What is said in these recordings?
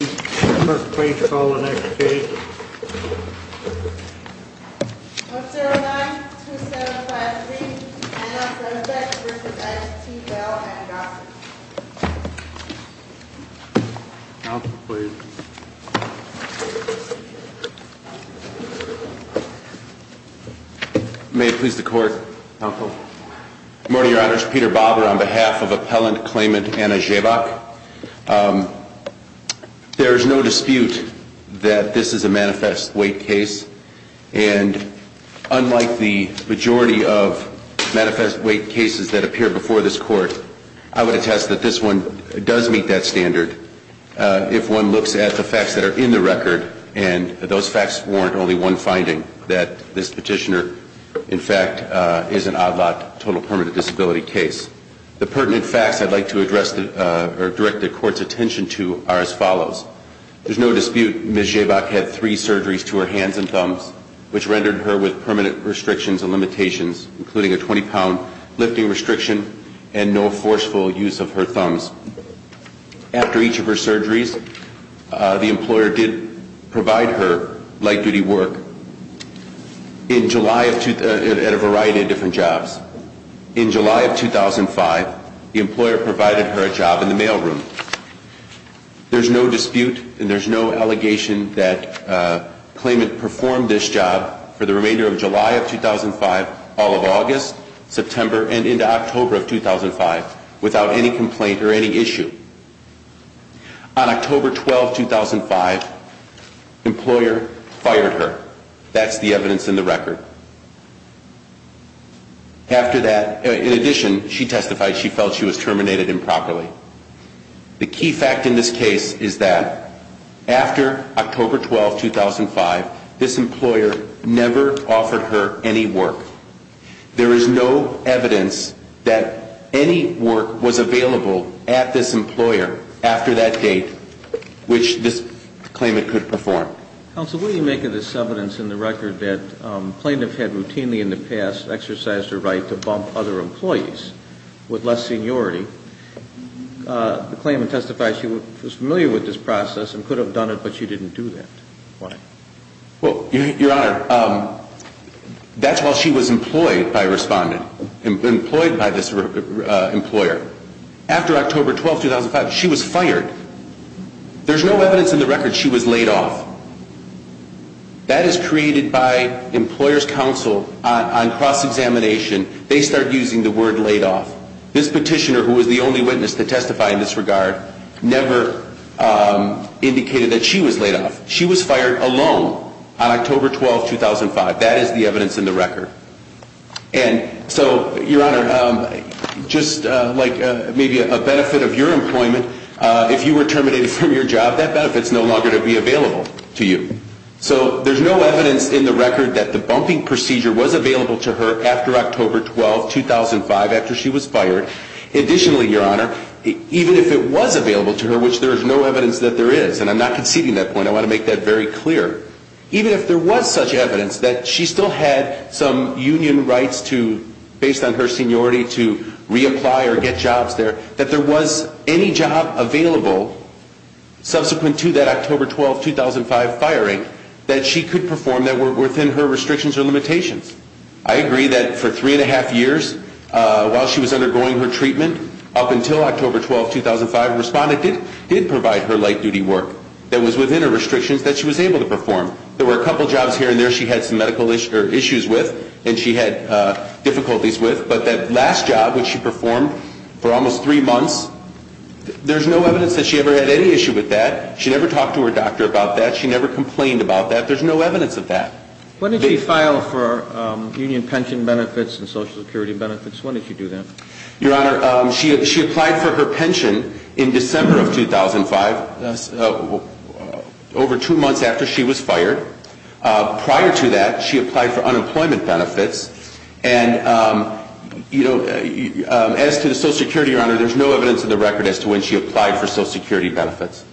May it please the Court, Counsel. Good morning, Your Honors. Peter Bobber on behalf of Appellant Claimant Anna Szczebak. There is no dispute that this is a manifest weight case and unlike the majority of manifest weight cases that appear before this Court, I would attest that this one does meet that standard if one looks at the facts that are in the record and those facts warrant only one finding, that this petitioner in fact is an odd lot total permanent disability case. The pertinent facts I'd like to address or direct the Court's attention to are as follows. There's no dispute Ms. Szczebak had three surgeries to her hands and thumbs, which rendered her with permanent restrictions and limitations, including a 20-pound lifting restriction and no forceful use of her thumbs. After each of her surgeries, the employer did provide her light-duty work at a variety of different jobs. In July of 2005, the employer provided her a job in the mailroom. There's no dispute and there's no allegation that uh, Claimant performed this job for the remainder of July of 2005, all of August, September, and into October of 2005, without any complaint or any issue. On October 12, 2005, employer fired her. That's the evidence in the record. After that, in addition, she testified she felt she was terminated improperly. The key fact in this case is that after October 12, 2005, this employer never offered her any work. There is no evidence that any work was available at this employer after that date, which this Claimant could perform. Counsel, what do you make of this evidence in the record that plaintiff had routinely in the past exercised her right to bump other employees with less seniority? The Claimant testified she was familiar with this process and could have done it, but she didn't do that. Why? Well, Your Honor, that's while she was employed by Respondent, employed by this employer. After October 12, 2005, she was fired. There's no evidence in the record she was laid off. That is created by Employer's Counsel on cross-examination. They start using the word laid off. This petitioner, who was the only witness to testify in this regard, never indicated that she was laid off. She was fired alone. On October 12, 2005, that is the evidence in the record. And so, Your Honor, just like maybe a benefit of your employment, if you were terminated from your job, that benefit's no longer to be available to you. So there's no evidence in the record that the bumping procedure was available to her after October 12, 2005, after she was fired. Additionally, Your Honor, even if it was available to her, which there is no evidence that there is, and I'm not conceding that point, I want to make that very clear, even if there was such evidence that she still had some union rights to, based on her seniority, to reapply or get jobs there, that there was any job available subsequent to that October 12, 2005 firing that she could perform that were within her restrictions or limitations. I agree that for three and a half years, while she was undergoing her treatment, up until October 12, 2005, a respondent did provide her light-duty work that was within her restrictions that she was able to perform. There were a couple jobs here and there she had some medical issues with and she had difficulties with, but that last job, which she performed for almost three months, there's no evidence that she ever had any issue with that. She never talked to her doctor about that. She never complained about that. There's no evidence of that. When did she file for union pension benefits and Social Security benefits? When did she do that? Your Honor, she applied for her pension in December of 2005, over two months after she was fired. Prior to that, she applied for unemployment benefits. And as to the Social Security, Your Honor, there's no evidence in the record as to when she applied for Social Security benefits.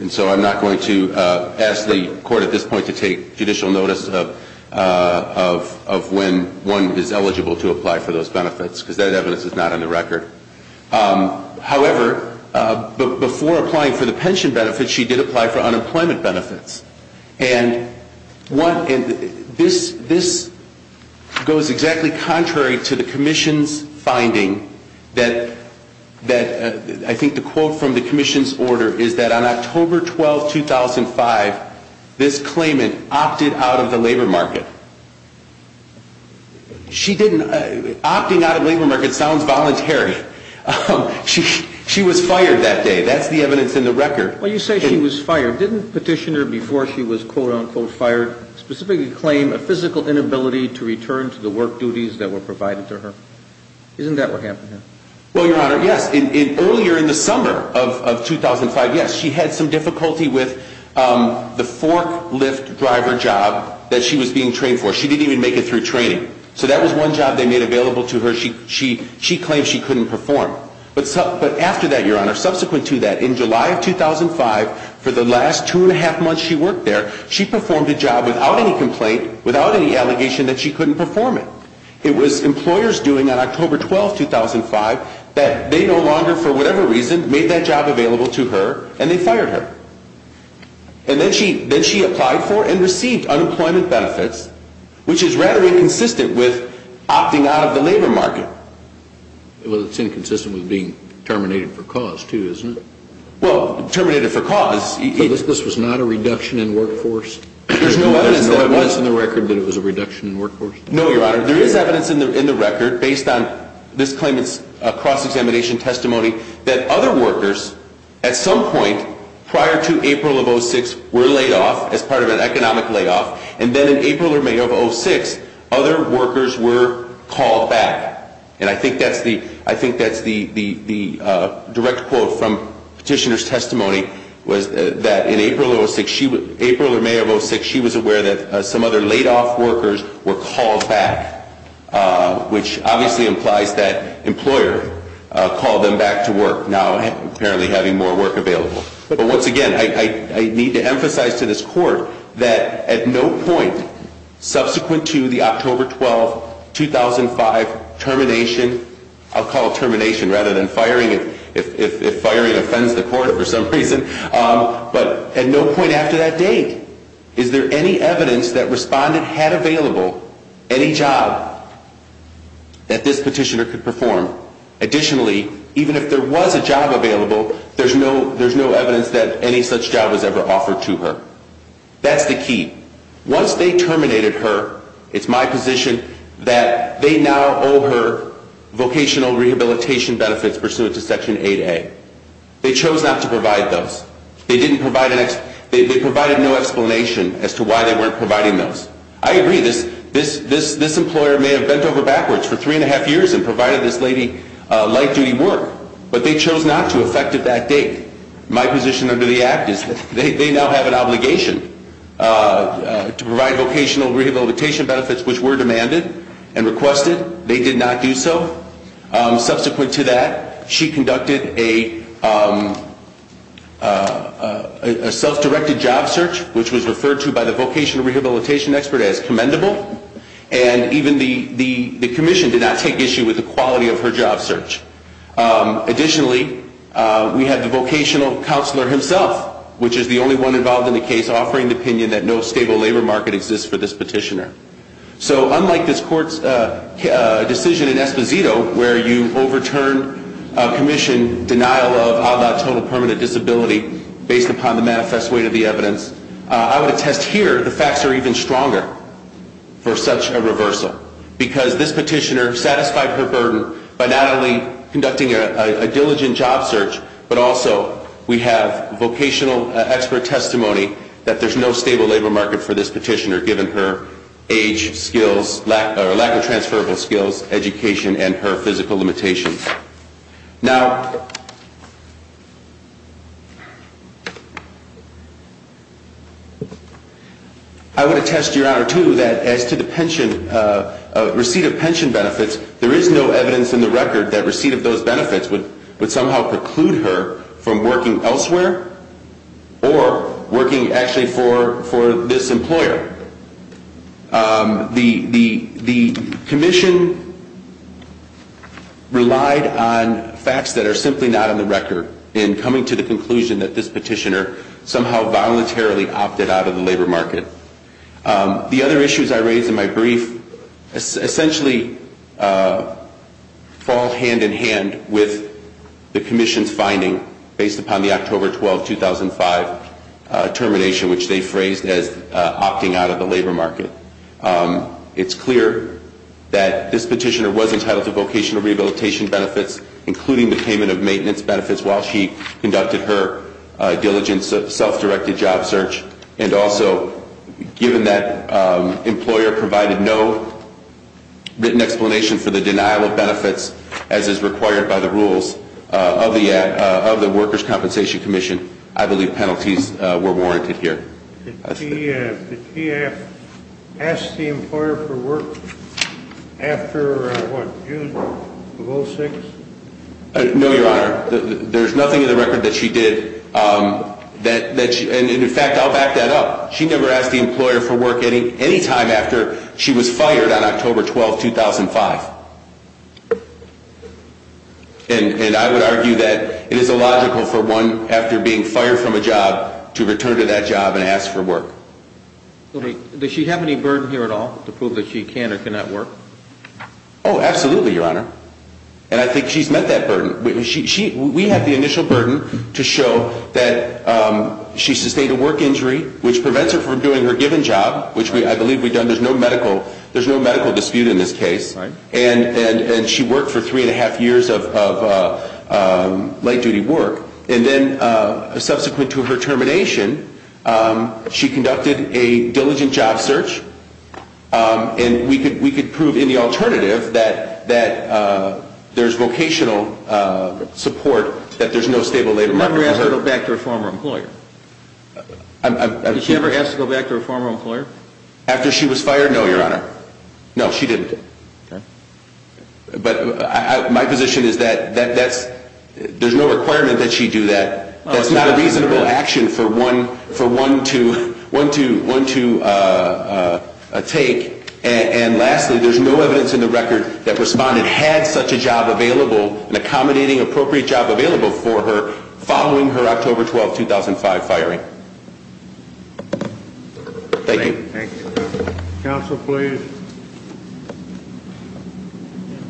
And so I'm not going to ask the Court at this point to take judicial notice of when one is eligible to apply for those benefits, because that evidence is not on the record. However, before applying for the pension benefits, she did apply for unemployment benefits. And this goes exactly contrary to the Commission's finding that I think the quote from the Commission's order is that on October 12, 2005, this claimant opted out of the labor market. She didn't. Opting out of the labor market sounds voluntary. She was fired that day. That's the evidence in the record. When you say she was fired, didn't Petitioner, before she was quote-unquote fired, specifically claim a physical inability to return to the work duties that were provided to her? Isn't that what happened? Well, Your Honor, yes. Earlier in the summer of 2005, yes, she had some difficulty with the forklift driver job that she was being trained for. She didn't even make it through training. So that was one job they made available to her. She claimed she couldn't perform. But after that, Your Honor, subsequent to that, in July of 2005, for the last two and a half months she worked there, she performed a job without any complaint, without any allegation that she couldn't perform it. It was employers doing on October 12, 2005, that they no longer, for whatever reason, made that job available to her, and they fired her. And then she applied for and received unemployment benefits, which is rather inconsistent with opting out of the labor market. Well, it's inconsistent with being terminated for cause, too, isn't it? Well, terminated for cause... But this was not a reduction in workforce? There's no evidence that it was. There's no evidence in the record that it was a reduction in workforce? No, Your Honor. There is evidence in the record, based on this claimant's cross-examination testimony, that other workers, at some point, prior to April of 2006, were laid off as part of an economic layoff. And then in April or May of 2006, other workers were called back. And I think that's the direct quote from petitioner's testimony, was that in April or May of 2006, she was aware that some other laid-off workers were called back, which obviously implies that employer called them back to work, now apparently having more work available. But once again, I need to emphasize to this Court that at no point subsequent to the October 12, 2005 termination, I'll call it termination rather than firing if firing offends the Court for some reason, but at no point after that date is there any evidence that respondent had available any job that this petitioner could perform. Additionally, even if there was a job available, there's no evidence that any such job was ever offered to her. That's the key. Once they terminated her, it's my position that they now owe her vocational rehabilitation benefits pursuant to Section 8A. They chose not to provide those. They provided no explanation as to why they weren't providing those. I agree, this employer may have bent over backwards for three and a half years and provided this lady light-duty work, but they chose not to effective that date. My position under the Act is that they now have an obligation to provide vocational rehabilitation benefits which were demanded and requested. They did not do so. Subsequent to that, she conducted a self-directed job search, which was referred to by the vocational rehabilitation expert as commendable, and even the commission did not take issue with the quality of her job search. Additionally, we had the vocational counselor himself, which is the only one involved in the case, offering the opinion that no stable labor market exists for this petitioner. So, unlike this Court's decision in Esposito where you overturned a commission denial of a la total permanent disability based upon the manifest weight of the evidence, I would attest here the facts are even stronger for such a reversal because this petitioner satisfied her burden by not only conducting a diligent job search, but also we have vocational expert testimony that there is no stable labor market for this petitioner given her age, skills, lack of transferable skills, education, and her physical limitations. Now, I would attest, Your Honor, too, that as to the receipt of pension benefits, there is no evidence in the record that receipt of those benefits would somehow preclude her from working elsewhere or working actually for this employer. The commission relied on facts that are simply not on the record in coming to the conclusion that this petitioner somehow voluntarily opted out of the labor market. The other issues I raised in my brief essentially fall hand in hand with the commission's finding based upon the October 12, 2005 termination, which they phrased as opting out of the labor market. It's clear that this petitioner was entitled to vocational rehabilitation benefits, including the payment of maintenance benefits while she conducted her diligent self-directed job search. And also, given that employer provided no written explanation for the denial of benefits as is required by the rules of the Workers' Compensation Commission, I believe penalties were warranted here. Did she ask the employer for work after, what, June of 06? No, Your Honor. There's nothing in the record that she did. And in fact, I'll back that up. She never asked the employer for work any time after she was fired on October 12, 2005. And I would argue that it is illogical for one, after being fired from a job, to return to that job and ask for work. Does she have any burden here at all to prove that she can or cannot work? Oh, absolutely, Your Honor. And I think she's met that burden. We have the initial burden to show that she sustained a work injury, which prevents her from doing her given job, which I believe we've done. There's no medical dispute in this case. And she worked for three and a half years of late-duty work. And then, subsequent to her termination, she conducted a diligent job search. And we could prove in the alternative that there's vocational support, that there's no stable labor market for her. Did she ever ask to go back to her former employer? Did she ever ask to go back to her former employer? After she was fired? No, Your Honor. No, she didn't. Okay. But my position is that there's no requirement that she do that. That's not a reasonable action for one to take. And lastly, there's no evidence in the record that Respondent had such a job available, an accommodating, appropriate job available for her, following her October 12, 2005 firing. Thank you. Thank you. Counsel, please.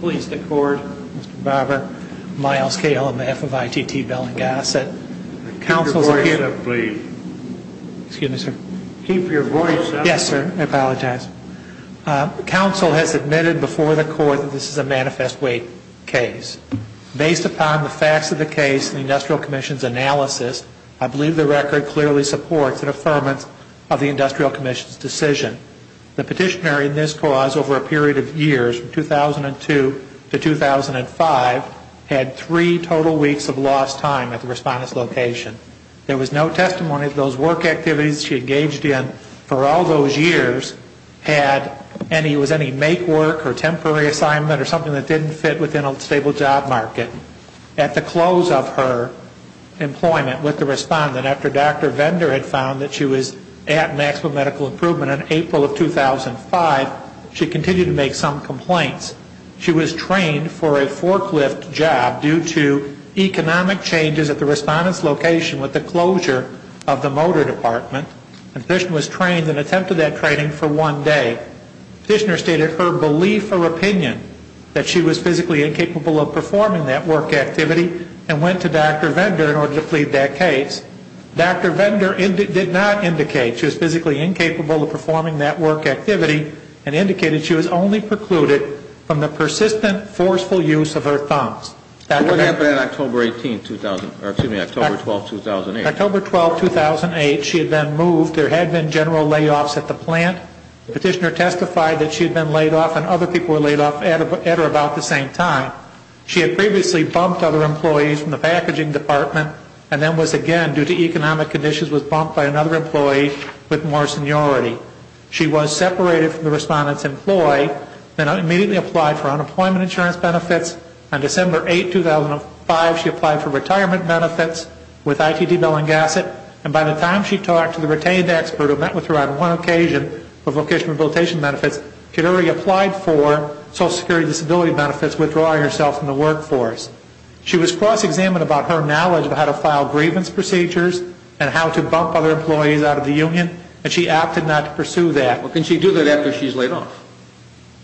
Please, the Court. Mr. Barber, Myles K. Lemaire of ITT Bellinghasset. Keep your voice up, please. Excuse me, sir. Keep your voice up. Yes, sir. I apologize. Counsel has admitted before the Court that this is a manifest weight case. Based upon the facts of the case and the Industrial Commission's analysis, I believe the record clearly supports an affirmance of the Industrial Commission's decision. The petitioner in this cause over a period of years, 2002 to 2005, had three total weeks of lost time at the Respondent's location. There was no testimony of those work activities she engaged in for all those years, had any, was any make work or temporary assignment or something that didn't fit within a stable job market. At the close of her employment with the Respondent, after Dr. Vendor had found that she was at maximum medical improvement in April of 2005, she continued to make some complaints. She was trained for a forklift job due to economic changes at the Respondent's location with the closure of the motor department. The petitioner was trained and attempted that training for one day. The petitioner stated her belief or opinion that she was physically incapable of performing that work activity and went to Dr. Vendor in order to plead that case. Dr. Vendor did not indicate she was physically incapable of performing that work activity and indicated she was only precluded from the persistent forceful use of her thumbs. What happened on October 18, 2000, or excuse me, October 12, 2008? October 12, 2008, she had been moved. There had been general layoffs at the plant. The petitioner testified that she had been laid off and other people were laid off at or about the same time. She had previously bumped other employees from the packaging department and then was again, due to economic conditions, was bumped by another employee with more seniority. She was separated from the Respondent's employee and immediately applied for unemployment insurance benefits. On December 8, 2005, she applied for retirement benefits with I.T.D. Bellinghasset and by the time she talked to the retained expert who met with her on one occasion with vocational rehabilitation benefits, she had already applied for Social Security Disability benefits, withdrawing herself from the workforce. She was cross-examined about her knowledge of how to file grievance procedures and how to bump other employees out of the union and she opted not to pursue that. Well, can she do that after she's laid off?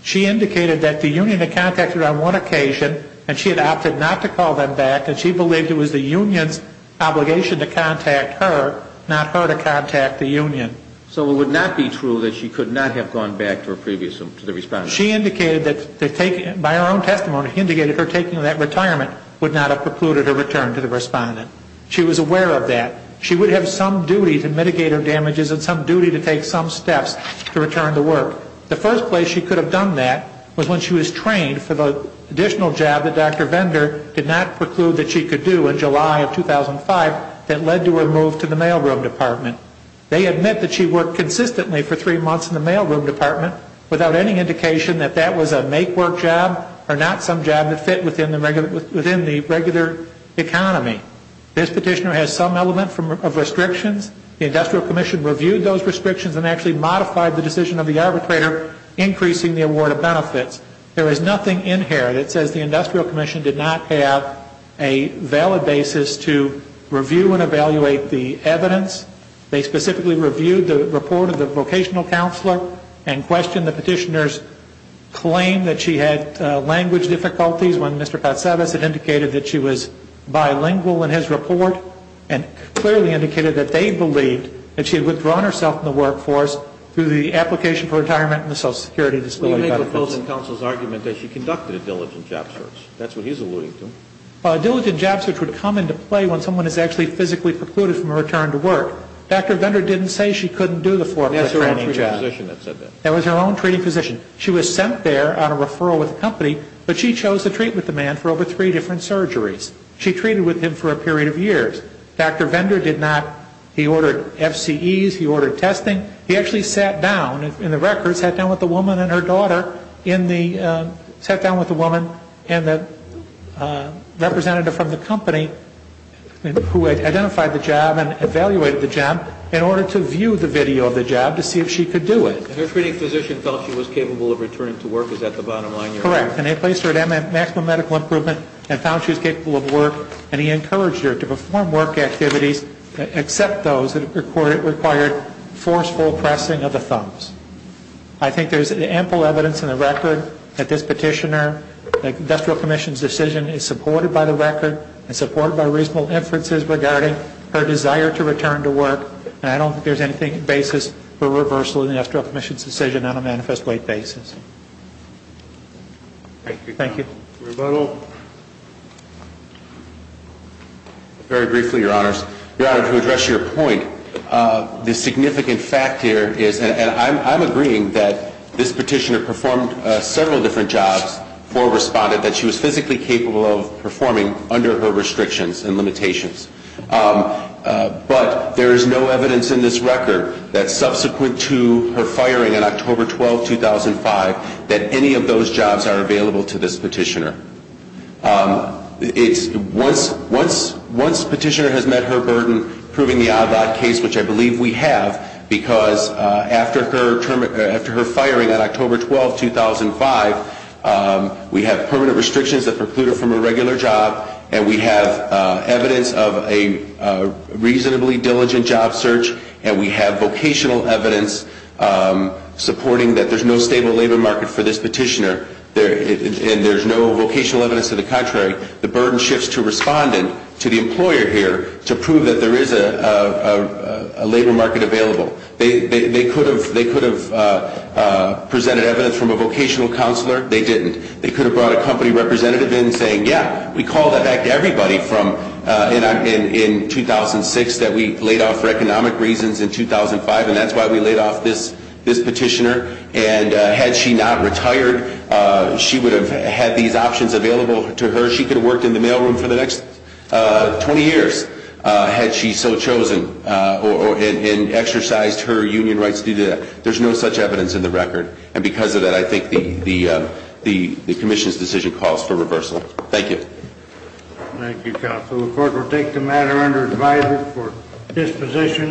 She indicated that the union had contacted her on one occasion and she had opted not to call them back and she believed it was the union's obligation to contact her, not her to contact the union. So it would not be true that she could not have gone back to the Respondent? She indicated that, by her own testimony, indicated her taking that retirement would not have precluded her return to the Respondent. She was aware of that. She would have some duty to mitigate her damages and some duty to take some steps to return to work. The first place she could have done that was when she was trained for the additional job that Dr. Vendor did not preclude that she could do in July of 2005 that led to her move to the mailroom department. They admit that she worked consistently for three months in the mailroom department without any indication that that was a make-work job or not some job that fit within the regular economy. This petitioner has some element of restrictions. The Industrial Commission reviewed those restrictions and actually modified the decision of the arbitrator increasing the award of benefits. There is nothing in here that says the Industrial Commission did not have a valid basis to review and evaluate the evidence. They specifically reviewed the report of the vocational counselor and questioned the petitioner's claim that she had language difficulties when Mr. Patsevas had indicated that she was bilingual in his report and clearly indicated that they believed that she had withdrawn herself from the workforce through the application for retirement and the Social Security Disability Benefits. I'm going to make opposing counsel's argument that she conducted a diligent job search. That's what he's alluding to. A diligent job search would come into play when someone is actually physically precluded from a return to work. Dr. Vendor didn't say she couldn't do the formal training job. That was her own treating physician that said that. That was her own treating physician. She was sent there on a referral with the company, but she chose to treat with the man for over three different surgeries. She treated with him for a period of years. Dr. Vendor did not. He ordered FCEs. He ordered testing. He actually sat down in the records, sat down with the woman and her daughter, sat down with the woman and the representative from the company who had identified the job and evaluated the job in order to view the video of the job to see if she could do it. And her treating physician felt she was capable of returning to work. Is that the bottom line? Correct. And they placed her at maximum medical improvement and found she was capable of work, and he encouraged her to perform work activities except those that required forceful pressing of the thumbs. I think there's ample evidence in the record that this petitioner, the Industrial Commission's decision is supported by the record and supported by reasonable inferences regarding her desire to return to work, and I don't think there's any basis for reversal in the Industrial Commission's decision Thank you. Thank you. Rebuttal. Very briefly, Your Honors. Your Honor, to address your point, the significant fact here is, and I'm agreeing that this petitioner performed several different jobs for a respondent that she was physically capable of performing under her restrictions and limitations. But there is no evidence in this record that subsequent to her firing on October 12, 2005, that any of those jobs are available to this petitioner. Once petitioner has met her burden, proving the odd-lot case, which I believe we have, because after her firing on October 12, 2005, we have permanent restrictions that preclude her from a regular job, and we have evidence of a reasonably diligent job search, and we have vocational evidence supporting that there's no stable labor market for this petitioner, and there's no vocational evidence to the contrary, the burden shifts to respondent, to the employer here, to prove that there is a labor market available. They could have presented evidence from a vocational counselor. They didn't. They could have brought a company representative in saying, yeah, we called that back to everybody in 2006 that we laid off for economic reasons in 2005, and that's why we laid off this petitioner. And had she not retired, she would have had these options available to her. She could have worked in the mailroom for the next 20 years had she so chosen and exercised her union rights due to that. There's no such evidence in the record. And because of that, I think the commission's decision calls for reversal. Thank you. Thank you, counsel. The court will take the matter under advisory for disposition.